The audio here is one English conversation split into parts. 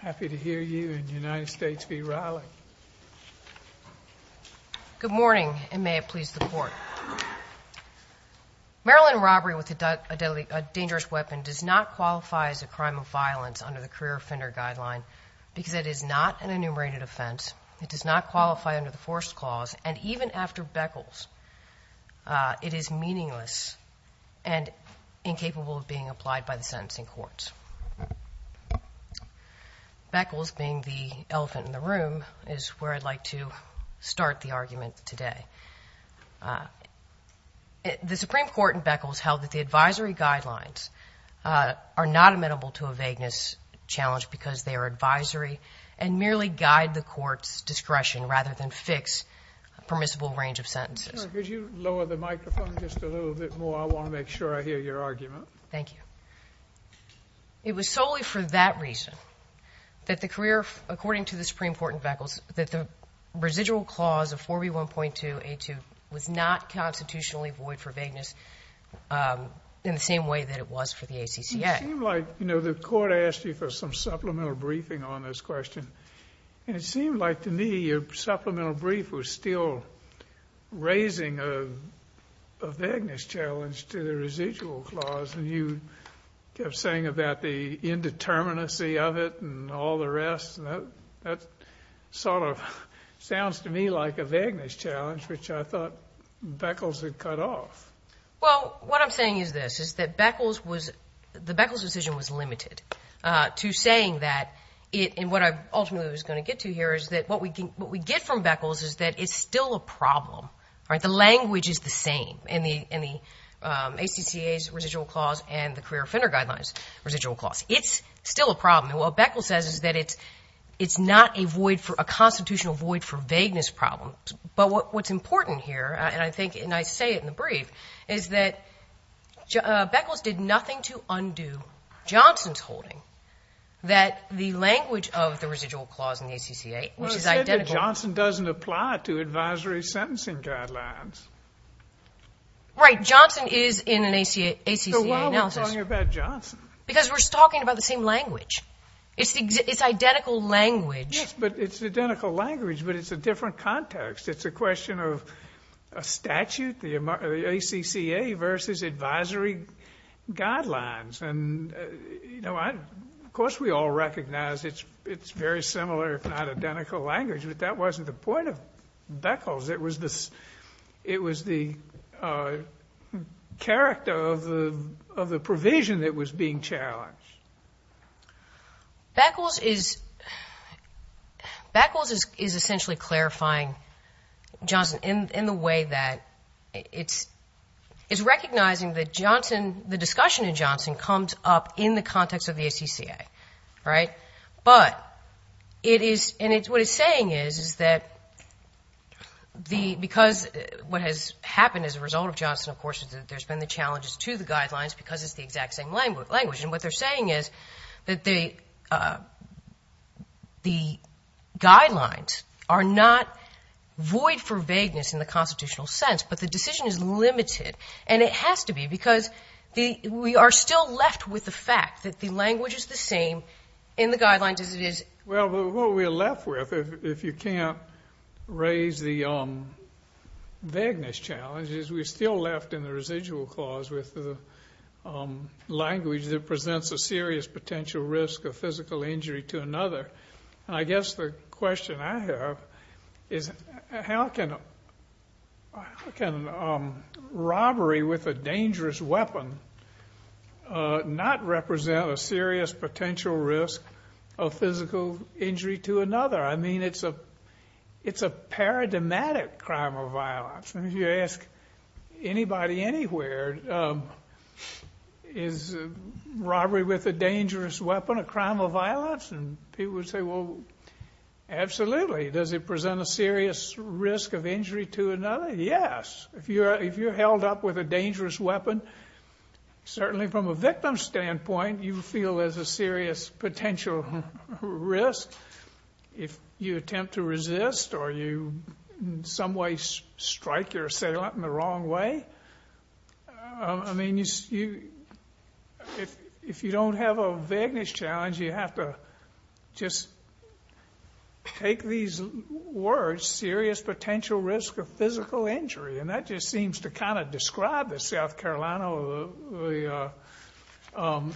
Happy to hear you and United States v. Riley. Good morning and may it please the court. Maryland robbery with a deadly a dangerous weapon does not qualify as a crime of violence under the career offender guideline because it is not an enumerated offense. It does not qualify under the force clause and even after beckles it is meaningless and incapable of being applied by the sentencing courts. Beckles being the elephant in the room is where I'd like to start the argument today. The Supreme Court in Beckles held that the advisory guidelines are not amenable to a vagueness challenge because they are advisory and merely guide the court's discretion rather than fix a permissible range of sentences. Could you lower the microphone just a little bit more I want to make sure I hear your argument. Thank you. It was solely for that reason that the career according to the Supreme Court in Beckles that the residual clause of 4b 1.2 a2 was not constitutionally void for vagueness in the same way that it was for the ACCA. You know the court asked you for some supplemental briefing on this question and it seemed like to me your vagueness challenge to the residual clause and you kept saying about the indeterminacy of it and all the rest that sort of sounds to me like a vagueness challenge which I thought Beckles had cut off. Well what I'm saying is this is that Beckles was the Beckles decision was limited to saying that it and what I ultimately was going to get to here is that what we can what we get from Beckles is that it's still a problem right the language is the same in the in the ACCA's residual clause and the career offender guidelines residual clause it's still a problem and what Beckles says is that it's it's not a void for a constitutional void for vagueness problems but what's important here and I think and I say it in the brief is that Beckles did nothing to undo Johnson's holding that the language of the residual clause in the ACCA which is identical. Johnson doesn't apply to advisory sentencing guidelines. Right Johnson is in an ACCA analysis because we're talking about the same language it's identical language but it's identical language but it's a different context it's a question of a statute the ACCA versus advisory guidelines and you know what of course we all recognize it's it's very similar if not identical language but that wasn't the point of Beckles it was this it was the character of the of the provision that was being challenged. Beckles is Beckles is essentially clarifying Johnson in the way that it's is recognizing that Johnson the discussion in Johnson comes up in the context of the ACCA right but it is and it's what it's saying is is that the because what has happened as a result of Johnson of course is that there's been the challenges to the guidelines because it's the exact same language language and what they're saying is that they the guidelines are not void for vagueness in the constitutional sense but the decision is limited and it has to be because the we are still left with the fact that the language is the same in the guidelines as it is. Well what we're left with if you can't raise the vagueness challenges we're still left in the residual clause with the language that presents a serious potential risk of physical injury to another. I guess the question I have is how can how can robbery with a dangerous weapon not represent a serious potential risk of physical injury to it's a paradigmatic crime of violence and you ask anybody anywhere is robbery with a dangerous weapon a crime of violence and people would say well absolutely does it present a serious risk of injury to another yes if you're if you're held up with a dangerous weapon certainly from a victim standpoint you feel as a serious potential risk if you attempt to resist or you in some ways strike your assailant in the wrong way I mean you see if you don't have a vagueness challenge you have to just take these words serious potential risk of physical injury and that just seems to kind of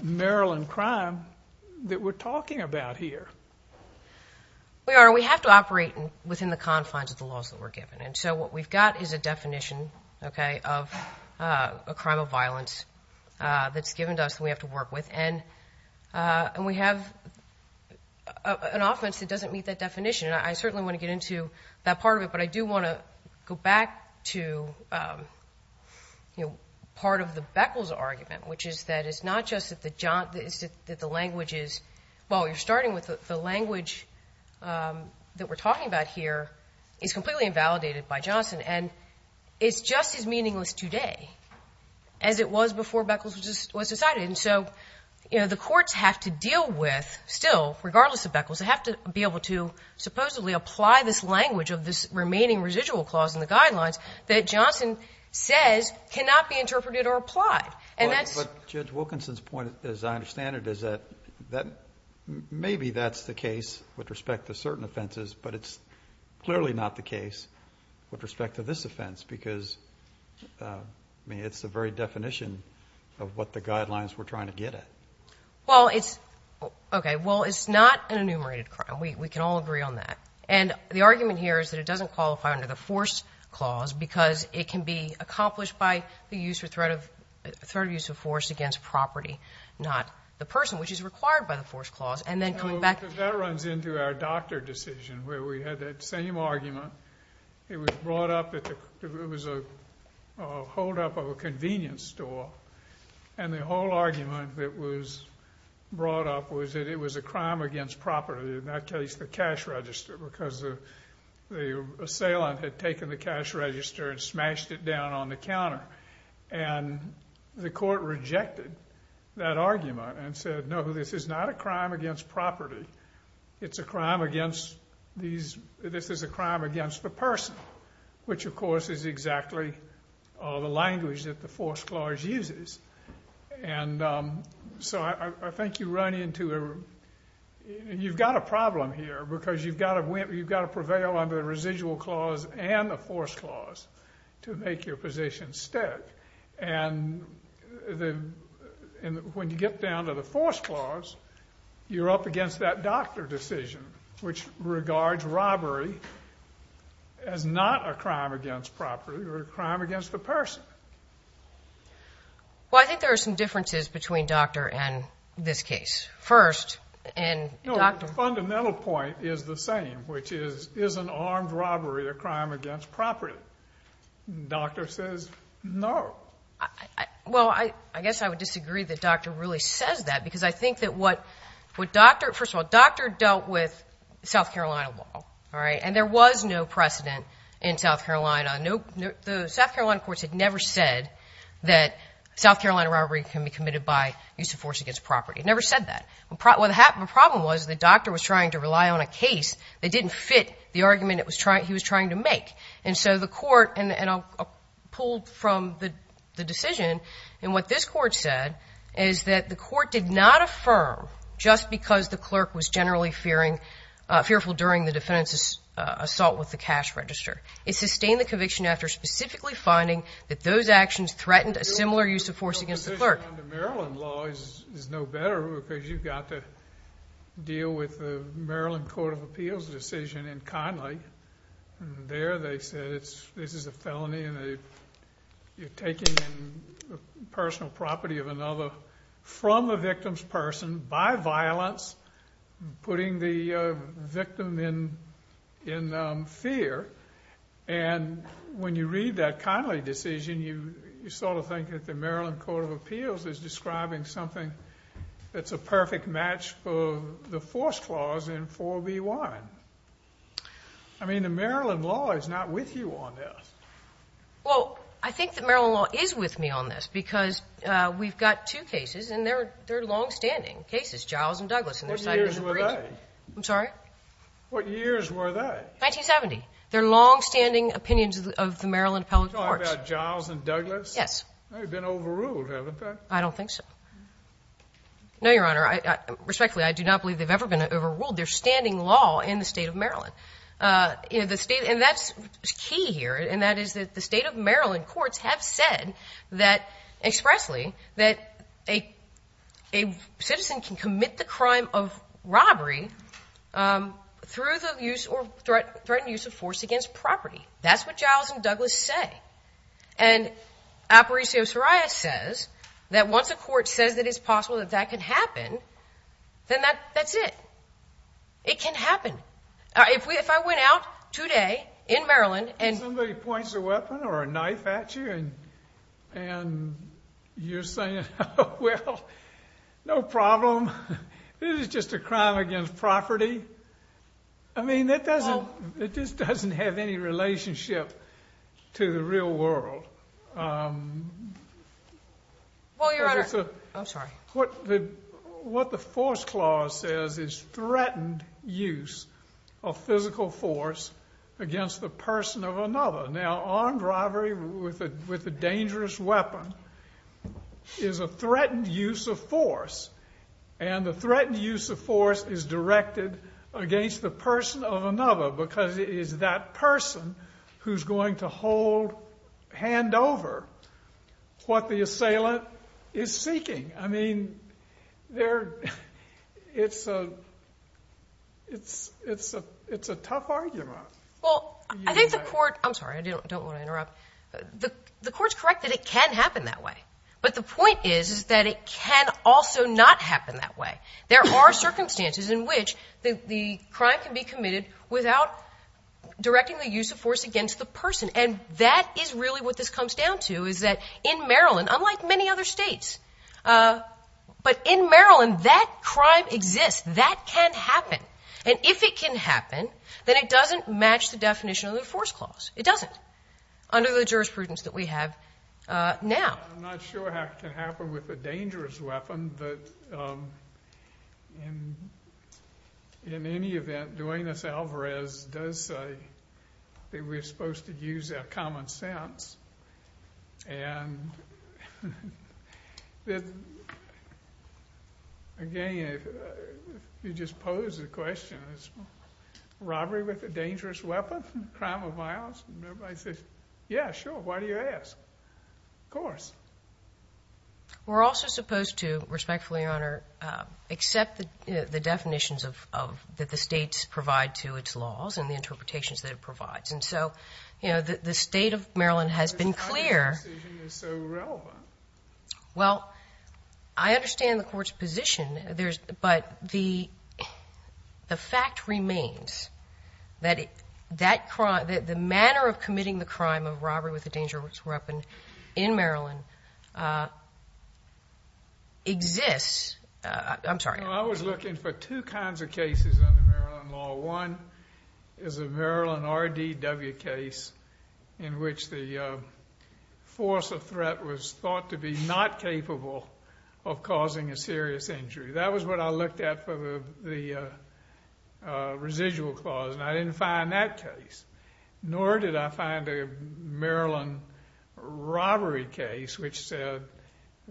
Marilyn crime that we're talking about here we are we have to operate within the confines of the laws that we're given and so what we've got is a definition okay of a crime of violence that's given to us we have to work with and and we have an offense that doesn't meet that definition I certainly want to get into that part of it but I do want to go back to you know part of the argument which is that it's not just that the John is that the language is well you're starting with the language that we're talking about here is completely invalidated by Johnson and it's just as meaningless today as it was before Beckles was decided and so you know the courts have to deal with still regardless of Beckles I have to be able to supposedly apply this language of this remaining residual clause in the guidelines that Johnson says cannot be interpreted or applied and that's judge Wilkinson's point as I understand it is that that maybe that's the case with respect to certain offenses but it's clearly not the case with respect to this offense because I mean it's the very definition of what the guidelines we're trying to get it well it's okay well it's not an enumerated crime we can all agree on that and the argument here is that it doesn't qualify under the force clause because it can be accomplished by the use or threat of third use of force against property not the person which is required by the force clause and then coming back that runs into our doctor decision where we had that same argument it was brought up it was a holdup of a convenience store and the whole argument that was brought up was that it was a crime against property and that case the cash register because the assailant had taken the cash register and smashed it down on the counter and the court rejected that argument and said no this is not a crime against property it's a crime against these this is a crime against the person which of course is exactly all the language that the force clause uses and so I think you run into a you've got a problem here because you've got to win you've got to prevail under the residual clause and the force clause to make your position stick and when you get down to the force clause you're up against that doctor decision which regards robbery as not a crime against property or a crime against the person well I think there are some differences between doctor and this case first and the fundamental point is the same which is is an armed robbery a crime against property doctor says no well I I guess I would disagree the doctor really says that because I think that what would doctor first of all doctor dealt with South Carolina law all right and there was no precedent in South Carolina nope the South Carolina courts had never said that South Carolina robbery can be committed by use of force against property never said that what happened the problem was the doctor was trying to rely on a case they didn't fit the argument it was trying he was trying to make and so the court and I'll pull from the decision and what this court said is that the court did not affirm just because the clerk was generally fearing fearful during the defense's assault with the cash register it sustained the conviction after specifically finding that those actions threatened a similar use of force against the clerk Maryland laws is no better because you've got to deal with the Maryland Court of Appeals decision and kindly there they said it's this is a felony and they you're taking personal property of another from the victim's person by violence putting the victim in in fear and when you read that kindly decision you you sort of think that the Maryland Court of Appeals is describing something that's a perfect match for the force clause in 4b1 I mean the Maryland law is not with you on this well I think that Maryland law is with me on this because we've got two cases and they're they're long-standing cases Giles and Douglas I'm sorry what years were they 1970 their long-standing opinions of the I don't think so no your honor I respectfully I do not believe they've ever been overruled their standing law in the state of Maryland you know the state and that's key here and that is that the state of Maryland courts have said that expressly that a a citizen can commit the crime of robbery through the use or threat threatened use of force against property that's what Giles and Douglas say and Aparicio Soraya says that once a court says that it's possible that that could happen then that that's it it can happen if we if I went out today in Maryland and somebody points a weapon or a knife at you and and you're saying well no problem this is just a crime against property I mean that doesn't it just doesn't have any relationship to the real world what the what the force clause says is threatened use of physical force against the person of another now armed robbery with it with a dangerous weapon is a threatened use of force and the threatened use of force is directed against the person of another because it is that person who's going to hold hand over what the assailant is seeking I mean there it's a it's it's a it's a tough argument well I think the court I'm sorry I don't want to interrupt the the courts correct that it can happen that way but the point is is that it can also not happen that way there are circumstances in which the crime can be committed without directing the use of force against the person and that is really what this comes down to is that in Maryland unlike many other states but in Maryland that crime exists that can happen and if it can happen then it doesn't match the definition of the force clause it doesn't under the jurisprudence that we have now I'm not sure how it can happen with a dangerous weapon but in any event doing this Alvarez does say that we're supposed to use our common sense and that again if you just pose the question is robbery with a dangerous weapon crime yeah sure why do you ask of course we're also supposed to respectfully honor except the definitions of that the state's provide to its laws and the interpretations that it provides and so you know that the state of Maryland has been clear well I understand the court's position there's but the the fact remains that the manner of committing the crime of robbery with a dangerous weapon in Maryland exists I'm sorry I was looking for two kinds of cases one is a Maryland RDW case in which the force of threat was thought to be not capable of causing a serious injury that was what I looked at for the residual clause and I didn't find that case nor did I find a Maryland robbery case which said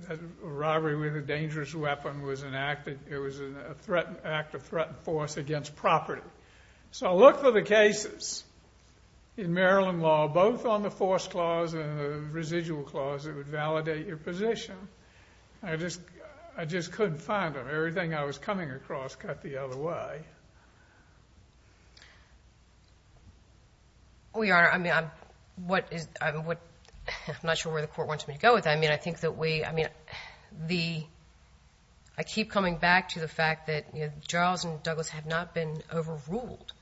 that robbery with a dangerous weapon was enacted it was an act of threat and force against property so I looked for the cases in Maryland law both on the force clause and the residual clause that would validate your position I just I just couldn't find them everything I was coming across cut the other way we are I mean I'm what is what I'm not sure where the court wants me to go with I mean I think that we I mean the I keep coming back to the fact that you know Giles and Douglass have not been overruled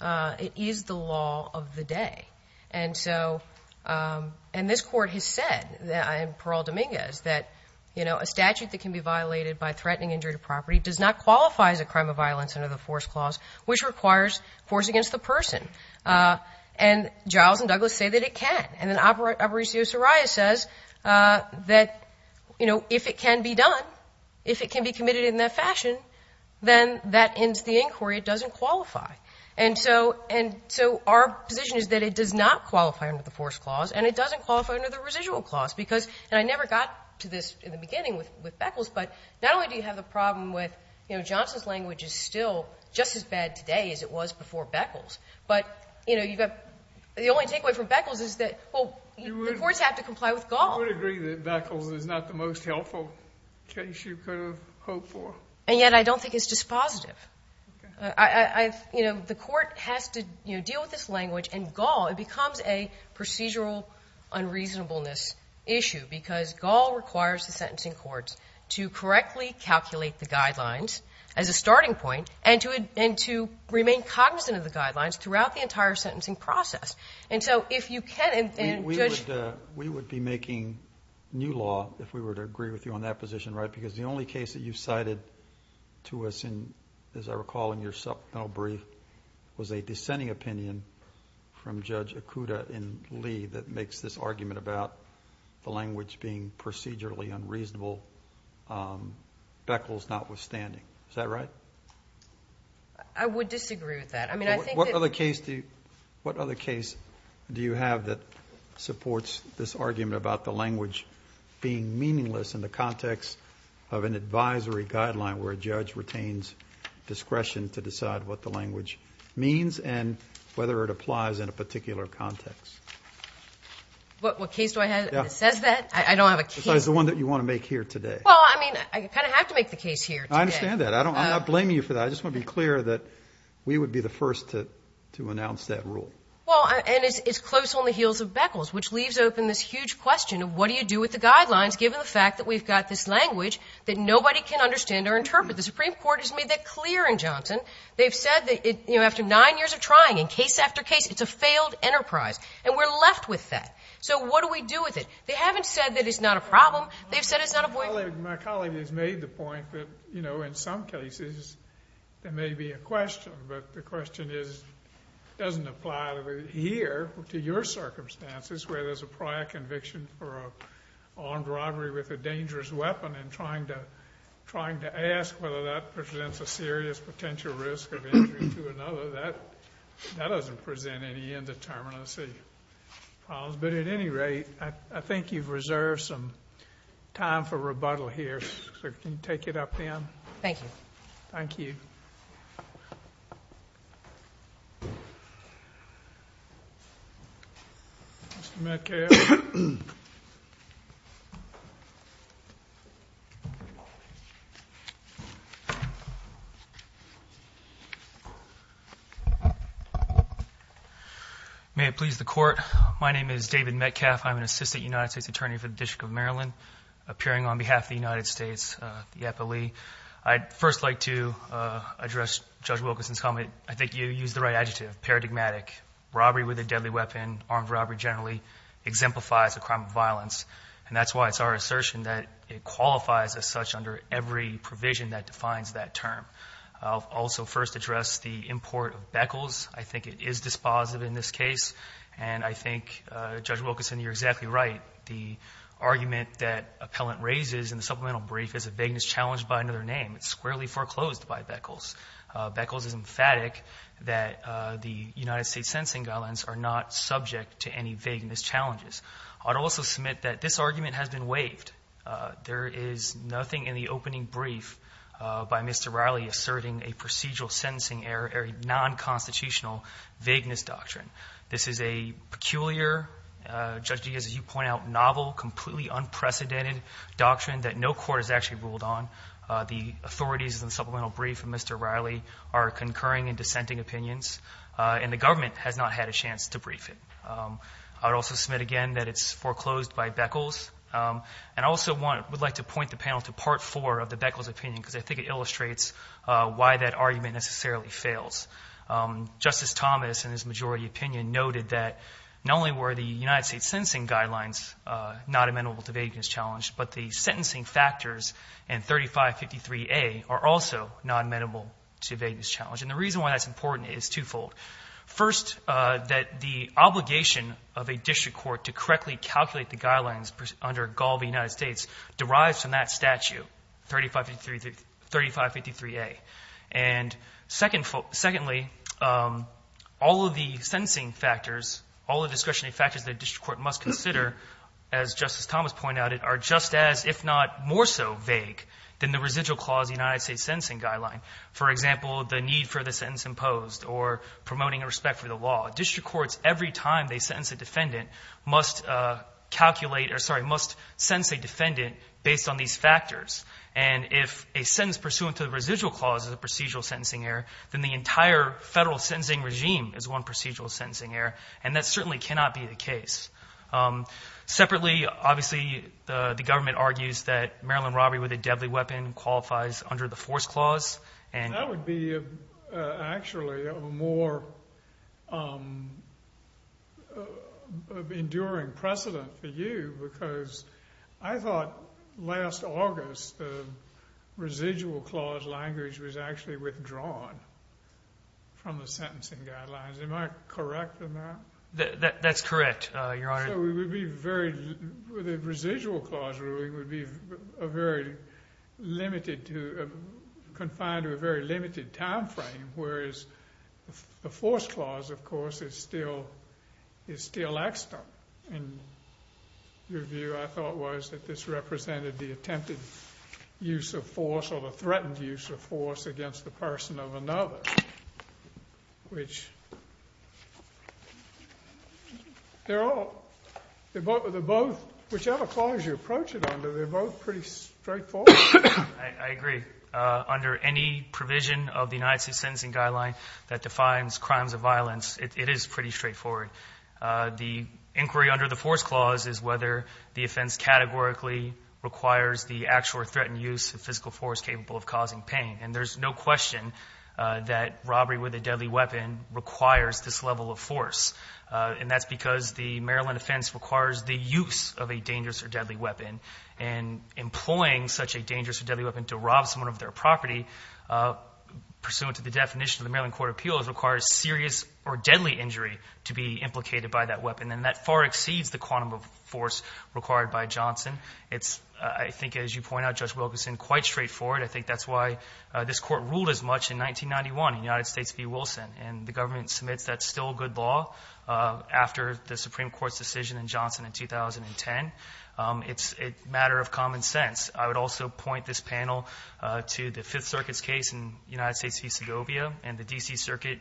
it is the law of the day and so and this court has said that I am parole Dominguez that you know a statute that can be violated by threatening injury to property does not qualify as a crime of violence under the force clause which requires force against the person and Giles and Douglass say that it can and then operate Aparicio Soraya says that you know if it can be done if it can be committed in that fashion then that ends the inquiry it doesn't qualify and so and so our position is that it does not qualify under the force clause and it doesn't qualify under the residual clause because and I never got to this in the beginning with with Beckles but not only do you have the problem with you know Johnson's language is still just as bad today as it was before Beckles but you know you've got the only takeaway from Beckles is that well the courts have to comply with golf agree that Beckles is not the most helpful and yet I don't think it's just positive I you know the court has to you know deal with this language and gall it becomes a procedural unreasonableness issue because gall requires the sentencing courts to correctly calculate the guidelines as a starting point and to it and to remain cognizant of the guidelines throughout the entire sentencing process and so if you can and we would we would be making new law if we were to agree with you on that position right because the only case that you cited to us in as I recall in your supplemental brief was a dissenting opinion from judge Akuta in Lee that the language being procedurally unreasonable Beckles notwithstanding is that right I would disagree with that I mean I think what other case do what other case do you have that supports this argument about the language being meaningless in the context of an advisory guideline where a judge retains discretion to decide what the language means and whether it applies in a says that I don't have a case the one that you want to make here today well I mean I kind of have to make the case here I understand that I don't blame you for that I just want to be clear that we would be the first to to announce that rule well and it's close on the heels of Beckles which leaves open this huge question of what do you do with the guidelines given the fact that we've got this language that nobody can understand or interpret the Supreme Court has made that clear in Johnson they've said that it you know after nine years of trying in case after case it's a failed enterprise and we're left with that so what do we do with it they haven't said that it's not a problem they've said it's not a boy my colleague has made the point that you know in some cases there may be a question but the question is doesn't apply to here to your circumstances where there's a prior conviction for armed robbery with a dangerous weapon and trying to trying to ask whether that presents a serious potential risk of injury to another that that doesn't present any indeterminacy but at any rate I think you've reserved some time for rebuttal here sir can you take it up then thank you thank you may it please the court my name is David Metcalf I'm an assistant United States Attorney for the District of Maryland appearing on behalf of the United States the FLE I'd first like to address judge Wilkinson's comment I think you use the right adjective paradigmatic robbery with a deadly weapon armed robbery generally exemplifies a crime of violence and that's why it's our assertion that it qualifies as such under every provision that defines that term I'll also first address the import of Beckles I think it is dispositive in this case and I think judge Wilkinson you're exactly right the argument that appellant raises in the supplemental brief is a vagueness challenged by another name it's squarely foreclosed by Beckles Beckles is emphatic that the United States sentencing guidelines are not subject to any vagueness challenges I'd also submit that this argument has been waived there is nothing in the opening brief by mr. Riley asserting a procedural sentencing error non-constitutional vagueness doctrine this is a peculiar judge as you point out novel completely unprecedented doctrine that no court has actually ruled on the authorities and supplemental brief from mr. Riley are concurring and dissenting opinions and the government has not had a chance to brief it I would also submit again that it's foreclosed by Beckles and also want would like to point the panel to part four of the Beckles opinion because I think it illustrates why that argument necessarily fails justice Thomas and his majority opinion noted that not only were the United States sentencing guidelines not amenable to vagueness challenged but the sentencing factors and 3553 a are also not amenable to vagueness challenge and the reason why that's important is twofold first that the obligation of a district court to correctly calculate the guidelines under gall the United States derives from that statute 3533 3553 a and second for secondly all of the sentencing factors all the discretionary factors that district court must consider as justice Thomas pointed out it are just as if not more so vague than the residual clause the United States sentencing guideline for example the need for the sentence imposed or promoting a respect for the law district courts every time they sentence a defendant must calculate or sorry must sense a defendant based on these factors and if a sentence pursuant to the residual clauses of procedural sentencing error then the entire federal sentencing regime is one procedural sentencing error and that certainly cannot be the case separately obviously the government argues that Maryland robbery with a deadly weapon qualifies under the force clause and that would be actually a more enduring precedent for you because I thought last August the residual clause language was actually from the sentencing guidelines am I correct in that that's correct your honor we would be very with a residual clause ruling would be a very limited to confine to a very limited time frame whereas the force clause of course is still is still extra and review I thought was that this represented the attempted use of force or the threatened use of force against the person of another which they're all they're both of the both whichever clause you approach it under they're both pretty straightforward I agree under any provision of the United States sentencing guideline that defines crimes of violence it is pretty straightforward the inquiry under the force clause is whether the offense categorically requires the actual threatened use of physical force capable of causing pain and there's no question that robbery with a deadly weapon requires this level of force and that's because the Maryland offense requires the use of a dangerous or deadly weapon and employing such a dangerous or deadly weapon to rob someone of their property pursuant to the definition of the Maryland Court of Appeals requires serious or deadly injury to be implicated by that weapon and that far exceeds the quantum of force required by Johnson it's I think as you point out judge Wilkinson quite straightforward I think that's why this court ruled as much in 1991 in United States v. Wilson and the government submits that's still good law after the Supreme Court's decision in Johnson in 2010 it's a matter of common sense I would also point this panel to the Fifth Circuit's case in United States v. Segovia and the DC Circuit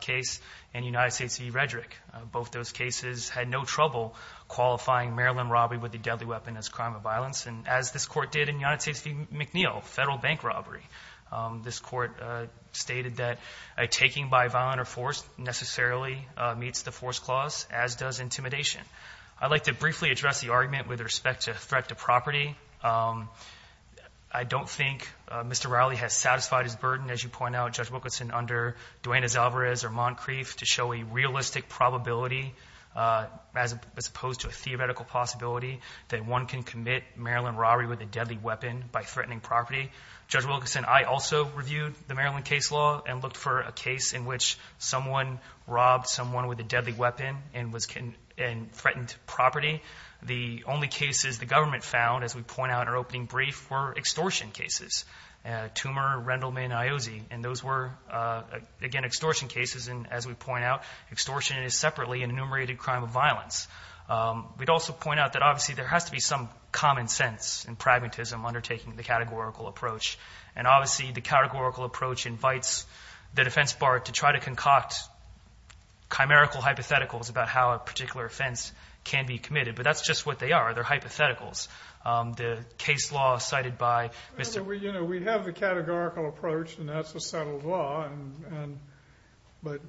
case and United States v. Redrick both those cases had no trouble qualifying Maryland robbery with the deadly weapon as crime of violence and as this court did in United States v. McNeil federal bank robbery this court stated that a taking by violent or force necessarily meets the force clause as does intimidation I'd like to briefly address the argument with respect to threat to property I don't think mr. Rowley has satisfied his burden as you point out judge Wilkinson under Dwayne as Alvarez or Moncrief to show a realistic probability as opposed to a theoretical possibility that one can commit Maryland robbery with a deadly weapon by threatening property judge Wilkinson I also reviewed the Maryland case law and looked for a case in which someone robbed someone with a deadly weapon and was can and threatened property the only cases the government found as we point out our opening brief were extortion cases tumor Rendleman Iose and those were again extortion cases and as we point out extortion is separately an enumerated crime of common sense and pragmatism undertaking the categorical approach and obviously the categorical approach invites the defense bar to try to concoct chimerical hypotheticals about how a particular offense can be committed but that's just what they are they're hypotheticals the case law cited by mr. we you know we have the categorical approach and that's a settled law and but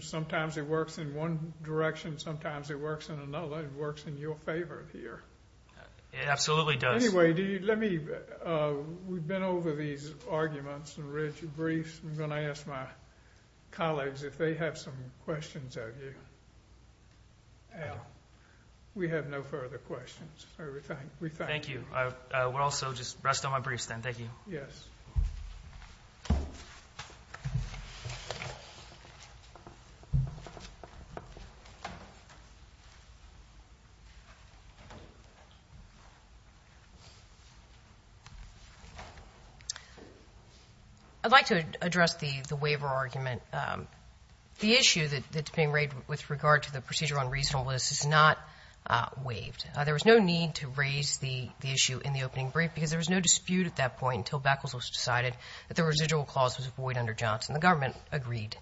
sometimes it works in one direction sometimes it works in another it works in your favor here it absolutely does anyway do you let me we've been over these arguments and rich briefs I'm gonna ask my colleagues if they have some questions of you yeah we have no further questions everything we thank you I would also just rest on my briefs then thank you yes I'd like to address the the waiver argument the issue that it's being raided with regard to the procedure on reasonableness is not waived there was no need to raise the issue in the opening brief because there was no dispute at that point until Beckles was decided that the residual clause was void under Johnson the government agreed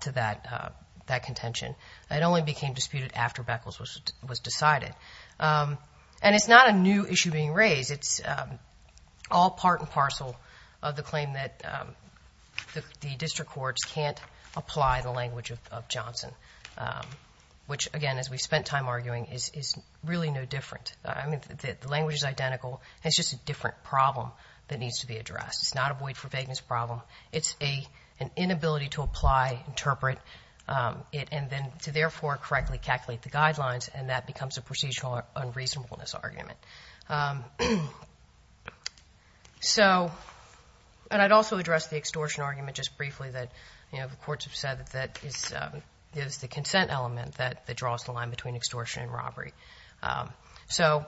to that that contention it only became disputed after Beckles was was decided and it's not a new issue being raised it's all part and parcel of the claim that the district courts can't apply the language of Johnson which again as we've spent time arguing is really no different I mean the language is identical it's just a different problem that needs to be addressed it's not a void for vagueness problem it's a an therefore correctly calculate the guidelines and that becomes a procedural unreasonableness argument so and I'd also address the extortion argument just briefly that you know the courts have said that that is gives the consent element that the draws the line between extortion and robbery so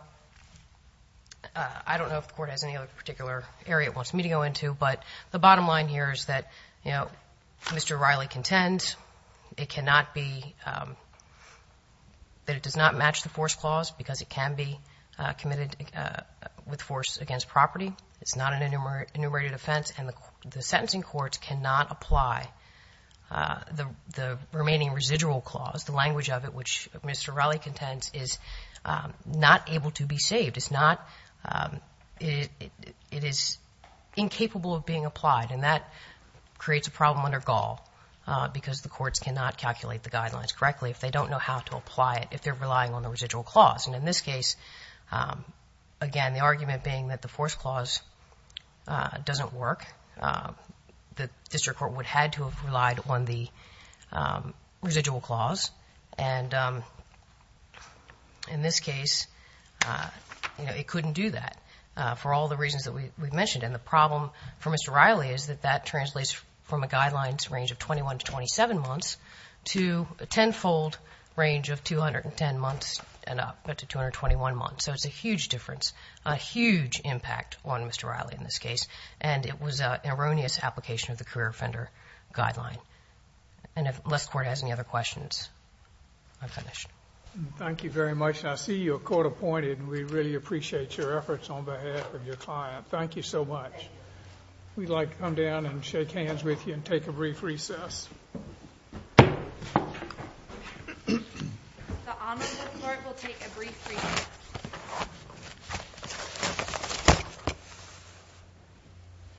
I don't know if the court has any other particular area it wants me to go into but the bottom line here is that you know mr. Riley contends it cannot be that it does not match the force clause because it can be committed with force against property it's not an enumerate enumerated offense and the sentencing courts cannot apply the the remaining residual clause the language of it which mr. Riley contends is not able to be saved it's not it it is incapable of being applied and that creates a problem under gall because the courts cannot calculate the guidelines correctly if they don't know how to apply it if they're relying on the residual clause and in this case again the argument being that the force clause doesn't work the district court would had to have relied on the residual clause and in this case you know it couldn't do that for all the reasons that we mentioned in the problem for mr. Riley is that that translates from a guidelines range of 21 to 27 months to a tenfold range of 210 months and up but to 221 months so it's a huge difference a huge impact on mr. Riley in this case and it was an erroneous application of the career offender guideline and if I'm finished thank you very much I see you a court appointed and we really appreciate your efforts on behalf of your client thank you so much we'd like to come down and shake hands with you and take a brief recess